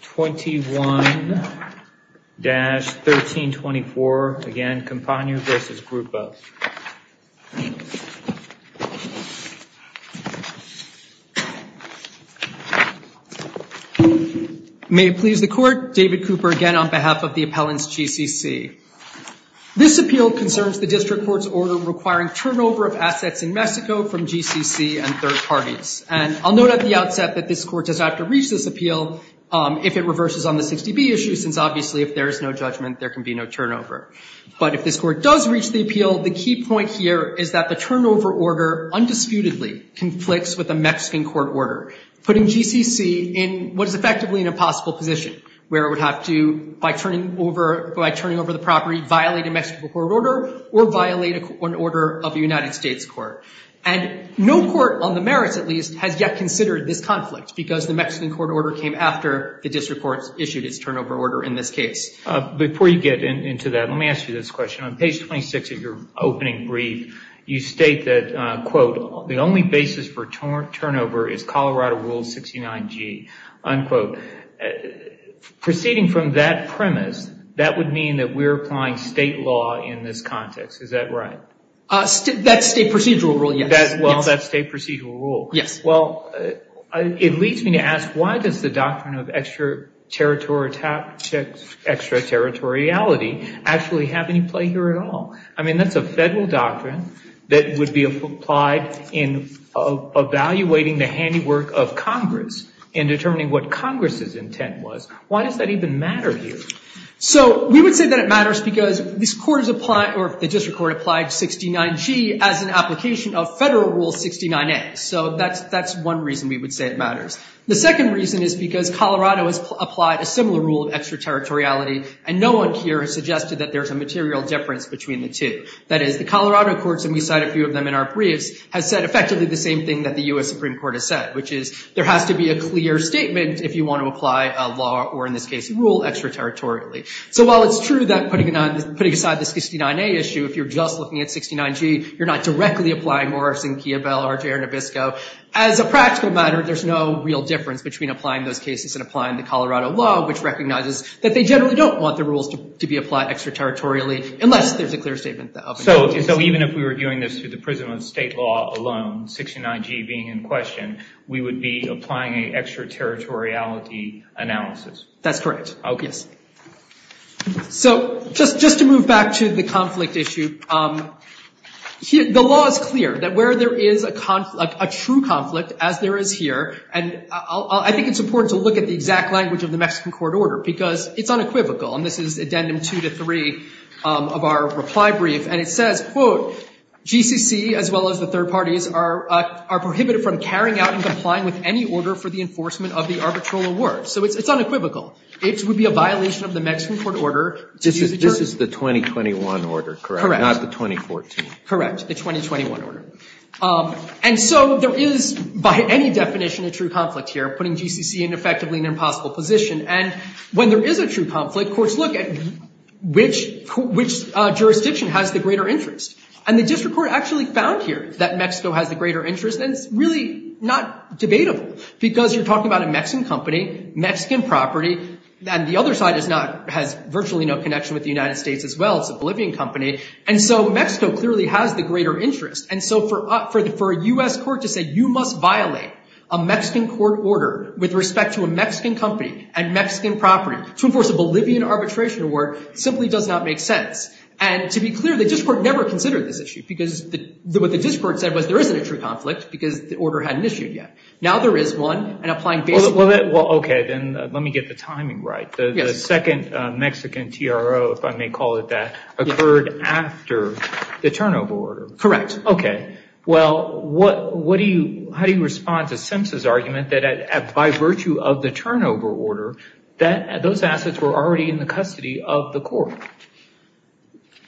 21-1324. Again, Campania v. Grupo. May it please the Court, David Cooper again on behalf of the Appellants GCC. This appeal concerns the District Court's order requiring turnover of assets in Mexico from GCC and third parties. And I'll note at the outset that this Court does not have to reach this appeal if it reverses on the 60B issue, since obviously if there is no judgment, there can be no turnover. But if this Court does reach the appeal, the key point here is that the turnover order undisputedly conflicts with the Mexican court order, putting GCC in what is effectively an impossible position, where it would have to, by turning over the property, violate a Mexican court order or violate an order of a United States court. And no court, on the merits at least, has yet considered this conflict, because the Mexican court order came after the District Court issued its turnover order in this case. Before you get into that, let me ask you this question. On page 26 of your opening brief, you state that, quote, the only basis for turnover is Colorado Rule 69G, unquote. Proceeding from that premise, that would mean that we're applying state law in this context. Is that right? That's state procedural rule, yes. Well, that's state procedural rule. Yes. Well, it leads me to ask, why does the doctrine of extraterritoriality actually have any play here at all? I mean, that's a federal doctrine that would be applied in evaluating the handiwork of Congress and determining what Congress's intent was. Why does that even matter here? So we would say that it matters because the District Court applied 69G as an application of Federal Rule 69A. So that's one reason we would say it matters. The second reason is because Colorado has applied a similar rule of extraterritoriality, and no one here has suggested that there's a material difference between the two. That is, the Colorado courts, and we cite a few of them in our briefs, has said effectively the same thing that the U.S. Supreme Court has said, which is there has to be a clear statement if you want to apply a law, or in this case, a rule, extraterritorially. So while it's true that putting aside this 69A issue, if you're just looking at 69G, you're not directly applying Morrison, Kiobel, or Taranabisco, as a practical matter, there's no real difference between applying those cases and applying the Colorado law, which recognizes that they generally don't want the rules to be applied extraterritorially unless there's a clear statement of the obligations. So even if we were doing this through the prison of state law alone, 69G being in question, we would be applying an extraterritoriality analysis? That's correct. Oh, yes. So just to move back to the conflict issue, the law is clear that where there is a true conflict, as there is here, and I think it's important to look at the exact language of the Mexican court order because it's unequivocal, and this is addendum two to three of our reply brief, and it says, quote, GCC, as well as the third parties, are prohibited from carrying out and complying with any order for the enforcement of the arbitral award. So it's unequivocal. It would be a violation of the Mexican court order. This is the 2021 order, correct? Correct. Not the 2014? Correct. The 2021 order. And so there is, by any definition, a true conflict here, putting GCC in effectively an impossible position. And when there is a true conflict, courts look at which jurisdiction has the greater interest. And the district court actually found here that Mexico has the greater interest, and it's really not debatable because you're talking about a Mexican company, Mexican property, and the other side has virtually no connection with the United States as well. It's a Bolivian company. And so Mexico clearly has the greater interest, and so for a U.S. court to say, you must violate a Mexican court order with respect to a Mexican company and Mexican property to enforce a Bolivian arbitration award simply does not make sense. And to be clear, the district court never considered this issue because what the district court said was there isn't a true conflict because the order hadn't issued yet. Now there is one, and applying basic law. Well, okay, then let me get the timing right. The second Mexican TRO, if I may call it that, occurred after the turnover order. Correct. Okay. Well, what do you, how do you respond to Simpson's argument that by virtue of the turnover order, that those assets were already in the custody of the court?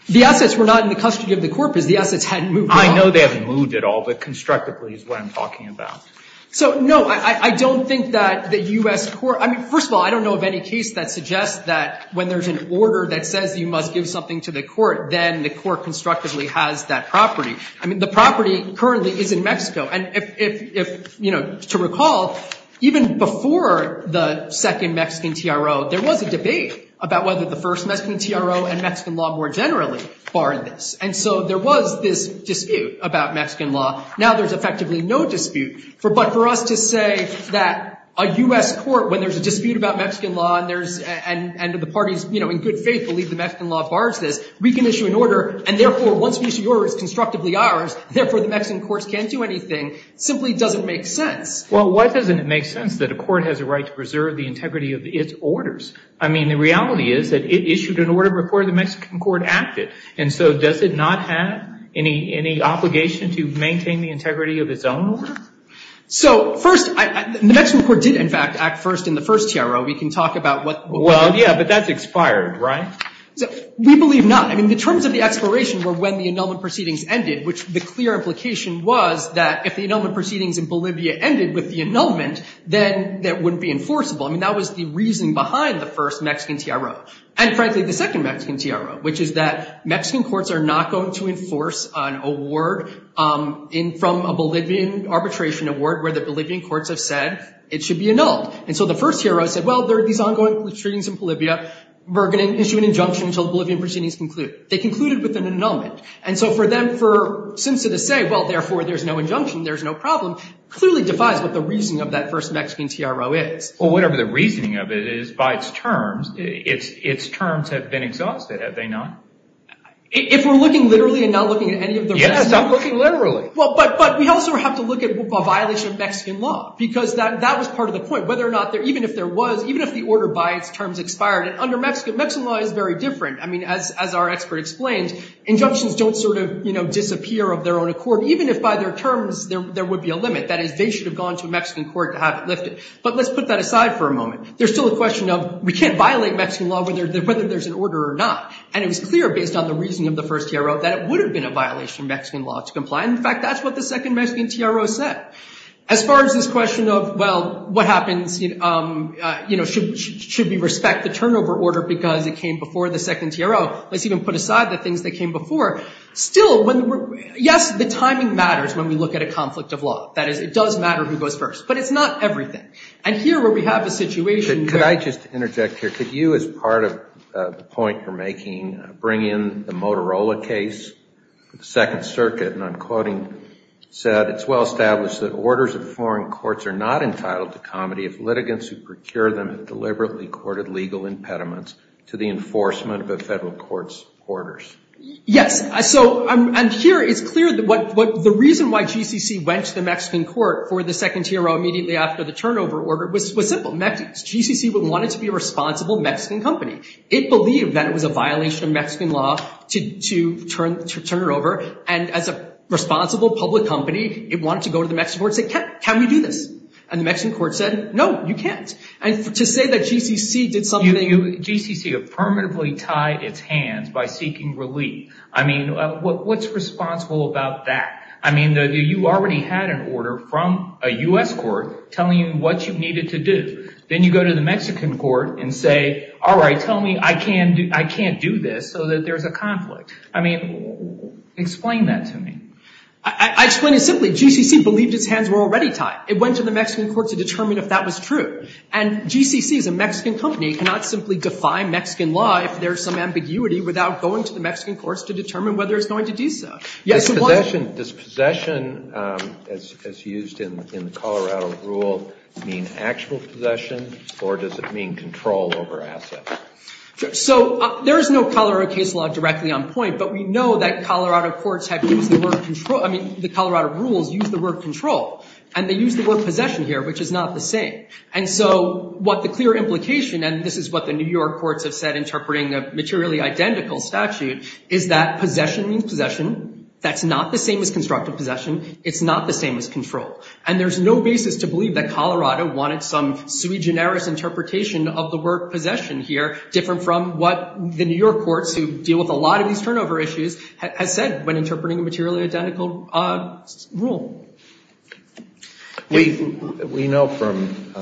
The assets were not in the custody of the court because the assets hadn't moved at all. I know they haven't moved at all, but constructively is what I'm talking about. So, no, I don't think that the U.S. court, I mean, first of all, I don't know of any case that suggests that when there's an order that says you must give something to the court, then the court constructively has that property. I mean, the property currently is in Mexico. And if, you know, to recall, even before the second Mexican TRO, there was a debate about whether the first Mexican TRO and Mexican law more generally barred this. And so there was this dispute about Mexican law. Now there's effectively no dispute. But for us to say that a U.S. court, when there's a dispute about Mexican law and the parties, you know, in good faith believe the Mexican law bars this, we can issue an order. And therefore, once we issue the order, it's constructively ours. Therefore, the Mexican courts can't do anything. It simply doesn't make sense. Well, why doesn't it make sense that a court has a right to preserve the integrity of its orders? I mean, the reality is that it issued an order before the Mexican court acted. And so does it not have any obligation to maintain the integrity of its own order? So, first, the Mexican court did, in fact, act first in the first TRO. We can talk about what they did. Well, yeah, but that's expired, right? We believe not. I mean, the terms of the expiration were when the annulment proceedings ended, which the clear implication was that if the annulment proceedings in Bolivia ended with the annulment, then that wouldn't be enforceable. I mean, that was the reason behind the first Mexican TRO. And, frankly, the second Mexican TRO, which is that Mexican courts are not going to enforce an award from a Bolivian arbitration award where the Bolivian courts have said it should be annulled. And so the first TRO said, well, there are these ongoing proceedings in Bolivia. We're going to issue an injunction until the Bolivian proceedings conclude. They concluded with an annulment. And so for them, for SIMSA to say, well, therefore, there's no injunction, there's no problem, clearly defies what the reasoning of that first Mexican TRO is. Well, whatever the reasoning of it is, by its terms, its terms have been exhausted, have they not? If we're looking literally and not looking at any of the rest. Yes, I'm looking literally. Well, but we also have to look at a violation of Mexican law, because that was part of the point, whether or not, even if there was, even if the order by its terms expired. And under Mexican law, Mexican law is very different. I mean, as our expert explained, injunctions don't sort of, you know, disappear of their own accord, even if by their terms there would be a limit. That is, they should have gone to a Mexican court to have it lifted. But let's put that aside for a moment. There's still a question of we can't violate Mexican law whether there's an order or not. And it was clear, based on the reasoning of the first TRO, that it would have been a violation of Mexican law to comply. In fact, that's what the second Mexican TRO said. As far as this question of, well, what happens, you know, should we respect the turnover order because it came before the second TRO? Let's even put aside the things that came before. Still, yes, the timing matters when we look at a conflict of law. That is, it does matter who goes first. But it's not everything. And here where we have a situation where — Could I just interject here? Could you, as part of the point you're making, bring in the Motorola case? The Second Circuit, and I'm quoting, said, it's well established that orders of foreign courts are not entitled to comedy if litigants who procure them have deliberately courted legal impediments to the enforcement of a federal court's orders. Yes. So here it's clear that the reason why GCC went to the Mexican court for the second TRO immediately after the turnover order was simple. GCC wanted to be a responsible Mexican company. It believed that it was a violation of Mexican law to turn it over. And as a responsible public company, it wanted to go to the Mexican court and say, can we do this? And the Mexican court said, no, you can't. And to say that GCC did something — GCC have permanently tied its hands by seeking relief. I mean, what's responsible about that? I mean, you already had an order from a U.S. court telling you what you needed to do. Then you go to the Mexican court and say, all right, tell me I can't do this so that there's a conflict. I mean, explain that to me. I explain it simply. GCC believed its hands were already tied. It went to the Mexican court to determine if that was true. And GCC is a Mexican company. It cannot simply defy Mexican law if there's some ambiguity without going to the Mexican courts to determine whether it's going to do so. Does possession, as used in the Colorado rule, mean actual possession? Or does it mean control over assets? So there is no Colorado case law directly on point. But we know that Colorado courts have used the word control — I mean, the Colorado rules use the word control. And they use the word possession here, which is not the same. And so what the clear implication — and this is what the New York courts have said, interpreting a materially identical statute, is that possession means possession. That's not the same as constructive possession. It's not the same as control. And there's no basis to believe that Colorado wanted some sui generis interpretation of the word possession here, different from what the New York courts, who deal with a lot of these turnover issues, have said when interpreting a materially identical rule. We know from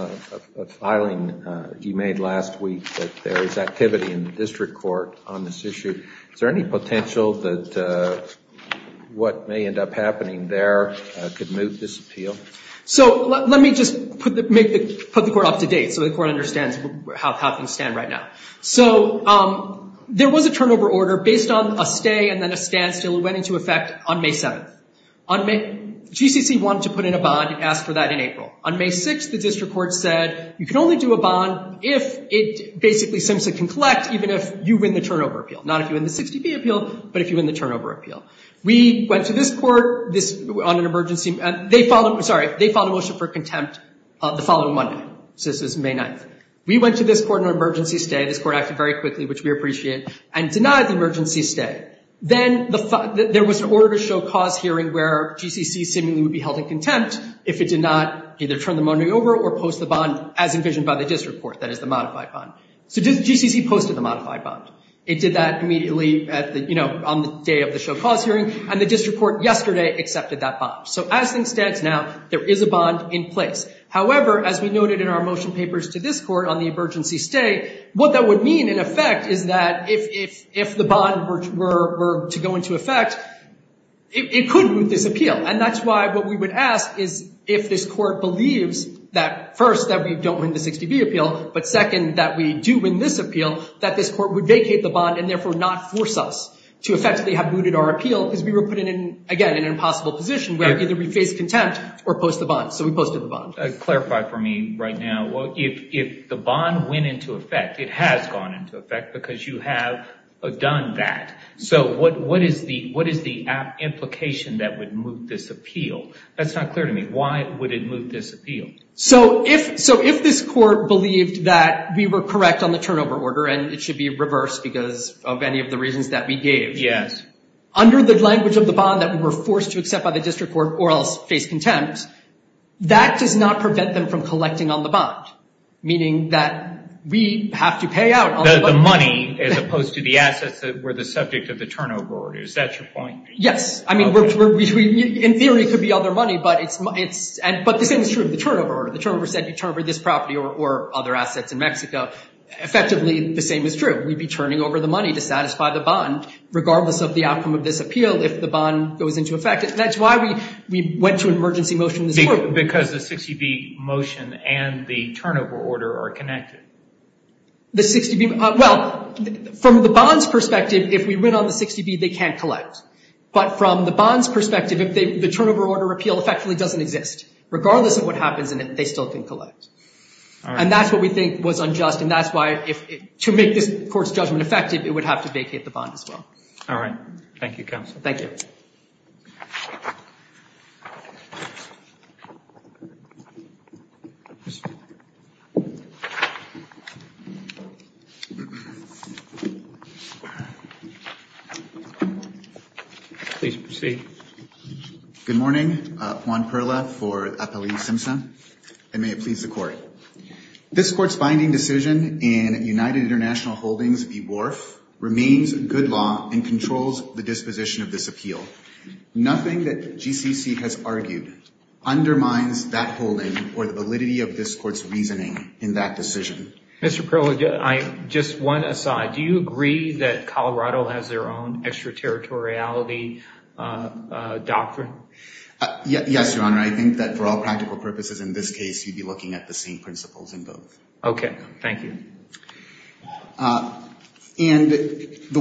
a filing you made last week that there is activity in the district court on this issue. Is there any potential that what may end up happening there could move this appeal? So let me just put the court up to date so the court understands how things stand right now. So there was a turnover order based on a stay and then a standstill. It went into effect on May 7th. GCC wanted to put in a bond. It asked for that in April. On May 6th, the district court said you can only do a bond if it basically simply can collect, even if you win the turnover appeal, not if you win the 60-P appeal, but if you win the turnover appeal. We went to this court on an emergency — sorry, they filed a motion for contempt the following Monday. So this was May 9th. We went to this court on an emergency stay. This court acted very quickly, which we appreciate, and denied the emergency stay. Then there was an order to show cause hearing where GCC seemingly would be held in contempt if it did not either turn the money over or post the bond as envisioned by the district court, that is, the modified bond. So GCC posted the modified bond. It did that immediately on the day of the show cause hearing, and the district court yesterday accepted that bond. So as things stand now, there is a bond in place. However, as we noted in our motion papers to this court on the emergency stay, what that would mean in effect is that if the bond were to go into effect, it could root this appeal. And that's why what we would ask is if this court believes that, first, that we don't win the 60-B appeal, but, second, that we do win this appeal, that this court would vacate the bond and therefore not force us to effectively have rooted our appeal because we were put in, again, an impossible position where either we face contempt or post the bond. So we posted the bond. Clarify for me right now. If the bond went into effect, it has gone into effect because you have done that. So what is the implication that would move this appeal? That's not clear to me. Why would it move this appeal? So if this court believed that we were correct on the turnover order and it should be reversed because of any of the reasons that we gave, under the language of the bond that we were forced to accept by the district court or else face contempt, that does not prevent them from collecting on the bond, meaning that we have to pay out on the bond. The money as opposed to the assets that were the subject of the turnover order. Is that your point? Yes. I mean, in theory, it could be other money, but the same is true of the turnover order. The turnover said you turn over this property or other assets in Mexico. Effectively, the same is true. We'd be turning over the money to satisfy the bond regardless of the outcome of this appeal if the bond goes into effect. That's why we went to an emergency motion this morning. Because the 60B motion and the turnover order are connected. The 60B – well, from the bond's perspective, if we went on the 60B, they can't collect. But from the bond's perspective, the turnover order appeal effectively doesn't exist, regardless of what happens in it, they still can collect. And that's what we think was unjust, and that's why to make this court's judgment effective, it would have to vacate the bond as well. All right. Thank you, counsel. Thank you. Please proceed. Good morning. Juan Perla for Appellee Simpson. And may it please the Court. This Court's binding decision in United International Holdings v. Wharf remains good law and controls the disposition of this appeal. Nothing that GCC has argued undermines that holding or the validity of this Court's reasoning in that decision. Mr. Perla, just one aside. Do you agree that Colorado has their own extraterritoriality doctrine? Yes, Your Honor. I think that for all practical purposes in this case, you'd be looking at the same principles in both. Okay. Thank you. And the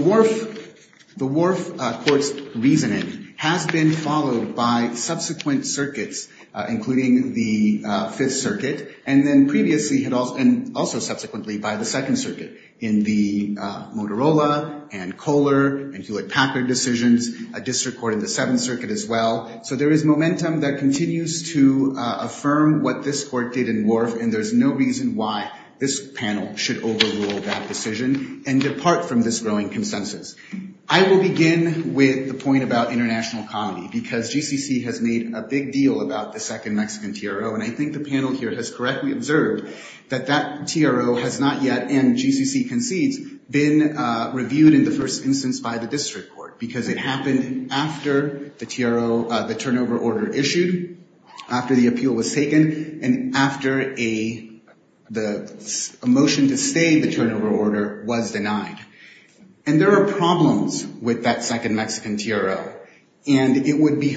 Wharf Court's reasoning has been followed by subsequent circuits, including the Fifth Circuit, and then previously and also subsequently by the Second Circuit in the Motorola and Kohler and Hewlett-Packard decisions, a district court in the Seventh Circuit as well. So there is momentum that continues to affirm what this Court did in Wharf, and there's no reason why this panel should overrule that decision and depart from this growing consensus. I will begin with the point about international economy, because GCC has made a big deal about the second Mexican TRO, and I think the panel here has correctly observed that that TRO has not yet, and GCC concedes, been reviewed in the first instance by the district court, because it happened after the TRO, the turnover order issued, after the appeal was taken, and after a motion to stay the turnover order was denied. And there are problems with that second Mexican TRO, and it would be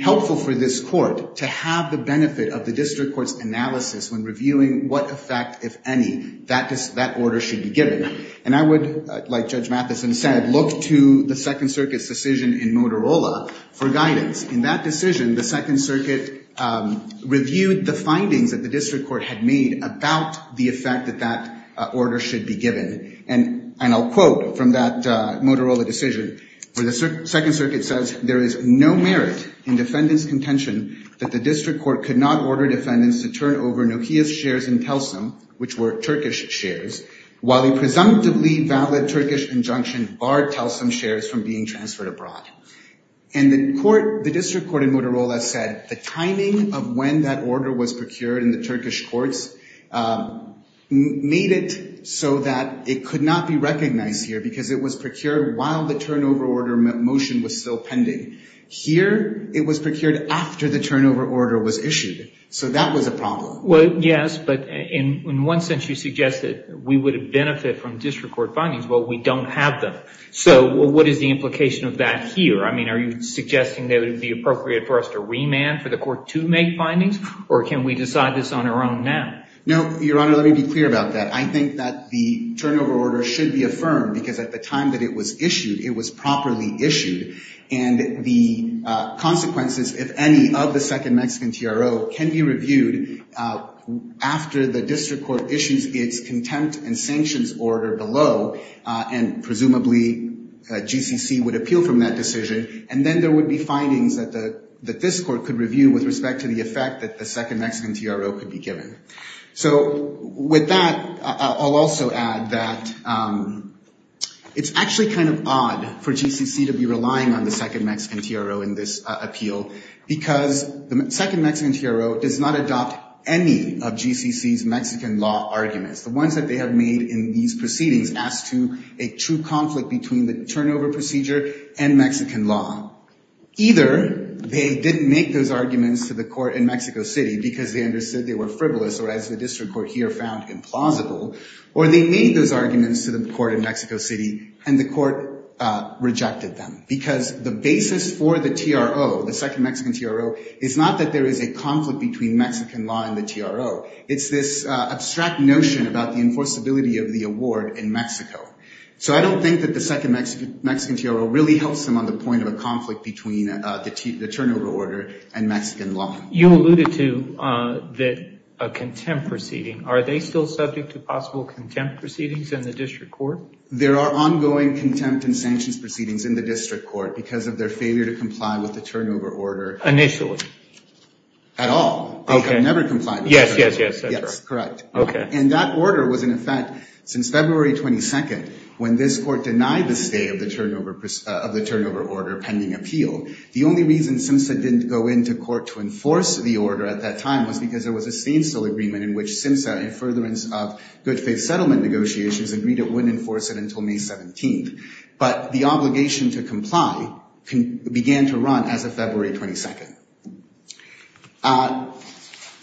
helpful for this court to have the benefit of the district court's analysis when reviewing what effect, if any, that order should be given. And I would, like Judge Matheson said, look to the Second Circuit's decision in Motorola for guidance. In that decision, the Second Circuit reviewed the findings that the district court had made about the effect that that order should be given. And I'll quote from that Motorola decision, where the Second Circuit says, there is no merit in defendant's contention that the district court could not order defendants to turn over Nokia's shares in Telsom, which were Turkish shares, while a presumptively valid Turkish injunction barred Telsom shares from being transferred abroad. And the court, the district court in Motorola said the timing of when that order was procured in the Turkish courts made it so that it could not be recognized here, because it was procured while the turnover order motion was still pending. Here, it was procured after the turnover order was issued. So that was a problem. Well, yes, but in one sense you suggest that we would benefit from district court findings. Well, we don't have them. So what is the implication of that here? I mean, are you suggesting that it would be appropriate for us to remand for the court to make findings, or can we decide this on our own now? No, Your Honor, let me be clear about that. I think that the turnover order should be affirmed, because at the time that it was issued, it was properly issued. And the consequences, if any, of the second Mexican TRO can be reviewed after the district court issues its contempt and sanctions order below, and presumably GCC would appeal from that decision, and then there would be findings that this court could review with respect to the effect that the second Mexican TRO could be given. So with that, I'll also add that it's actually kind of odd for GCC to be relying on the second Mexican TRO in this appeal, because the second Mexican TRO does not adopt any of GCC's Mexican law arguments. The ones that they have made in these proceedings as to a true conflict between the turnover procedure and Mexican law. Either they didn't make those arguments to the court in Mexico City because they understood they were frivolous, or as the district court here found, implausible, or they made those arguments to the court in Mexico City and the court rejected them. Because the basis for the TRO, the second Mexican TRO, is not that there is a conflict between Mexican law and the TRO. It's this abstract notion about the enforceability of the award in Mexico. So I don't think that the second Mexican TRO really helps them on the point of a conflict between the turnover order and Mexican law. You alluded to a contempt proceeding. Are they still subject to possible contempt proceedings in the district court? There are ongoing contempt and sanctions proceedings in the district court because of their failure to comply with the turnover order. Initially? At all. Okay. They have never complied with the turnover order. Yes, yes, yes, that's right. Yes, correct. Okay. And that order was in effect since February 22nd when this court denied the stay of the turnover order pending appeal. The only reason SIMSA didn't go into court to enforce the order at that time was because there was a standstill agreement in which SIMSA, in furtherance of good faith settlement negotiations, agreed it wouldn't enforce it until May 17th. But the obligation to comply began to run as of February 22nd.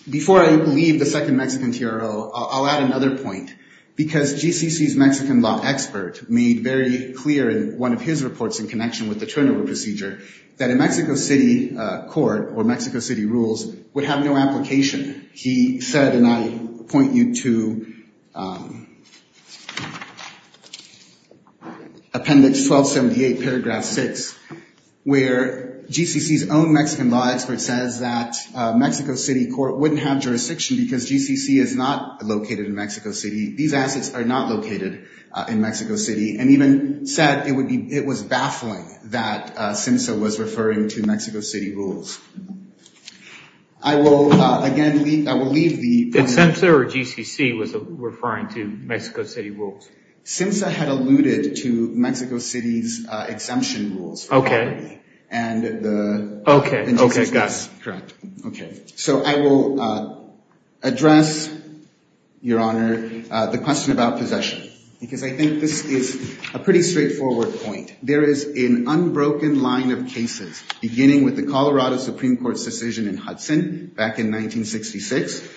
Before I leave the second Mexican TRO, I'll add another point. Because GCC's Mexican law expert made very clear in one of his reports in connection with the turnover procedure that a Mexico City court or Mexico City rules would have no application. He said, and I point you to appendix 1278, paragraph 6, where GCC's own Mexican law expert says that a Mexico City court wouldn't have jurisdiction because GCC is not located in Mexico City. These assets are not located in Mexico City. And even said it was baffling that SIMSA was referring to Mexico City rules. I will, again, I will leave the point. Did SIMSA or GCC was referring to Mexico City rules? SIMSA had alluded to Mexico City's exemption rules. Okay. And the. Okay. Okay, got it. Correct. Okay. So I will address, Your Honor, the question about possession. Because I think this is a pretty straightforward point. There is an unbroken line of cases, beginning with the Colorado Supreme Court's decision in Hudson back in 1966,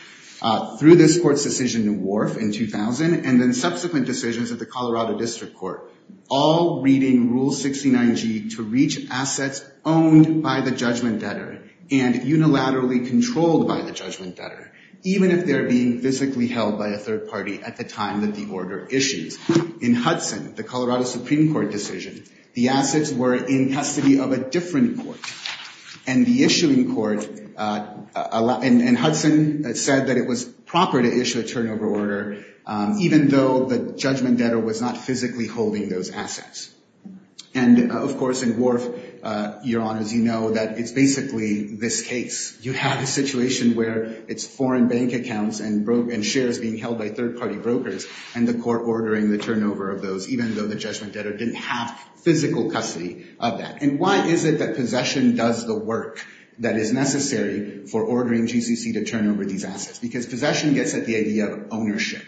through this court's decision in Wharf in 2000, and then subsequent decisions of the Colorado District Court, all reading Rule 69G to reach assets owned by the judgment debtor and unilaterally controlled by the judgment debtor, even if they're being physically held by a third party at the time that the order issues. In Hudson, the Colorado Supreme Court decision, the assets were in custody of a different court. And the issuing court, and Hudson said that it was proper to issue a turnover order, even though the judgment debtor was not physically holding those assets. And, of course, in Wharf, Your Honors, you know that it's basically this case. You have a situation where it's foreign bank accounts and shares being held by third party brokers, and the court ordering the turnover of those, even though the judgment debtor didn't have physical custody of that. And why is it that possession does the work that is necessary for ordering GCC to turn over these assets? Because possession gets at the idea of ownership.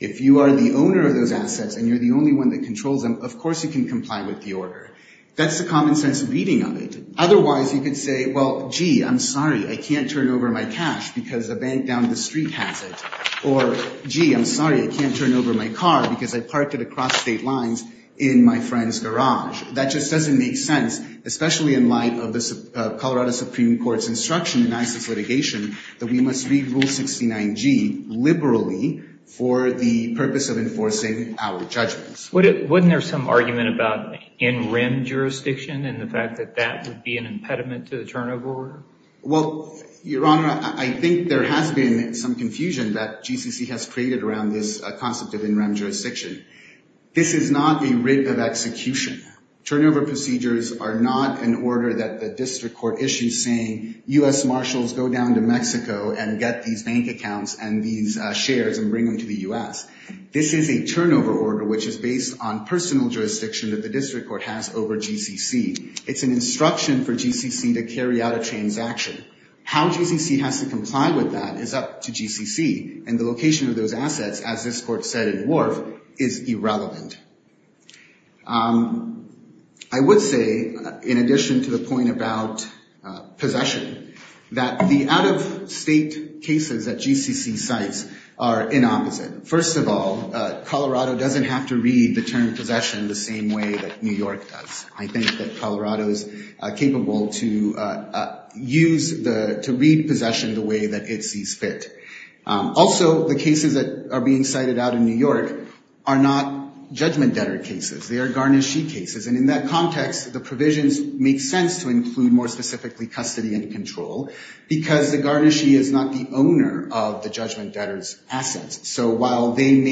If you are the owner of those assets and you're the only one that controls them, of course you can comply with the order. That's the common sense reading of it. Otherwise, you could say, well, gee, I'm sorry, I can't turn over my cash because the bank down the street has it. Or, gee, I'm sorry, I can't turn over my car because I parked it across state lines in my friend's garage. That just doesn't make sense, especially in light of the Colorado Supreme Court's instruction in ISIS litigation that we must read Rule 69G liberally for the purpose of enforcing our judgments. Wouldn't there be some argument about in-rim jurisdiction and the fact that that would be an impediment to the turnover order? Well, Your Honor, I think there has been some confusion that GCC has created around this concept of in-rim jurisdiction. This is not a writ of execution. Turnover procedures are not an order that the district court issues saying, U.S. Marshals, go down to Mexico and get these bank accounts and these shares and bring them to the U.S. This is a turnover order which is based on personal jurisdiction that the district court has over GCC. It's an instruction for GCC to carry out a transaction. How GCC has to comply with that is up to GCC, and the location of those assets, as this court said in Wharf, is irrelevant. I would say, in addition to the point about possession, that the out-of-state cases that GCC cites are inopposite. First of all, Colorado doesn't have to read the term possession the same way that New York does. I think that Colorado is capable to read possession the way that it sees fit. Also, the cases that are being cited out in New York are not judgment debtor cases. They are garnishee cases, and in that context, the provisions make sense to include more specifically custody and control because the garnishee is not the owner of the judgment debtor's assets. So while it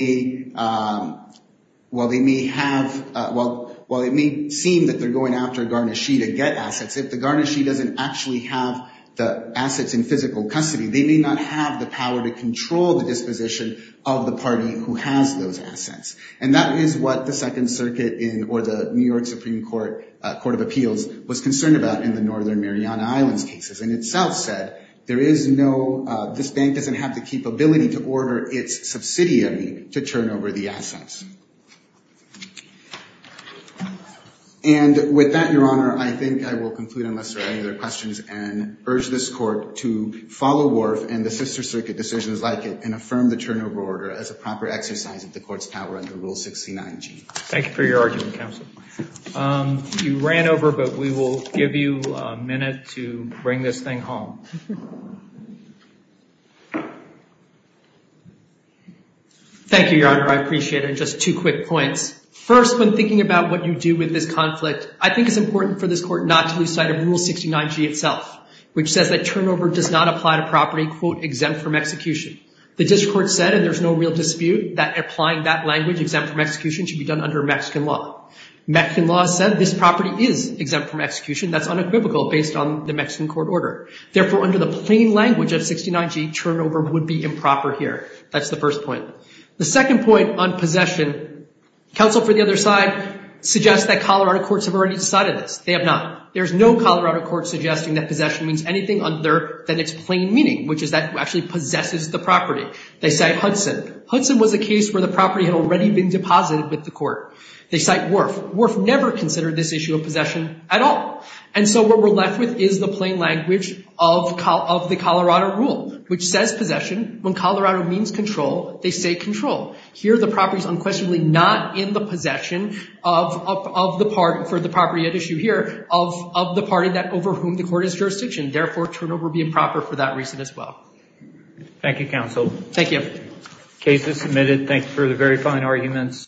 may seem that they're going after a garnishee to get assets, if the garnishee doesn't actually have the assets in physical custody, they may not have the power to control the disposition of the party who has those assets. And that is what the Second Circuit or the New York Supreme Court of Appeals was concerned about in the Northern Mariana Islands cases. In itself said, there is no – this bank doesn't have the capability to order its subsidiary to turn over the assets. And with that, Your Honor, I think I will conclude unless there are any other questions and urge this Court to follow Worf and the Sister Circuit decisions like it and affirm the turnover order as a proper exercise of the Court's power Thank you for your argument, counsel. You ran over, but we will give you a minute to bring this thing home. Thank you, Your Honor. I appreciate it. And just two quick points. First, when thinking about what you do with this conflict, I think it's important for this Court not to lose sight of Rule 69G itself, which says that turnover does not apply to property, quote, exempt from execution. The district court said, and there's no real dispute, that applying that language, property exempt from execution should be done under Mexican law. Mexican law said this property is exempt from execution. That's unequivocal based on the Mexican court order. Therefore, under the plain language of 69G, turnover would be improper here. That's the first point. The second point on possession, counsel for the other side suggests that Colorado courts have already decided this. They have not. There's no Colorado court suggesting that possession means anything other than its plain meaning, which is that it actually possesses the property. They cite Hudson. Hudson was a case where the property had already been deposited with the court. They cite Worf. Worf never considered this issue of possession at all. And so what we're left with is the plain language of the Colorado rule, which says possession. When Colorado means control, they say control. Here the property is unquestionably not in the possession of the part, for the property at issue here, of the party that over whom the court is jurisdiction. Therefore, turnover would be improper for that reason as well. Thank you, counsel. Thank you. Case is submitted. Thank you for the very fine arguments.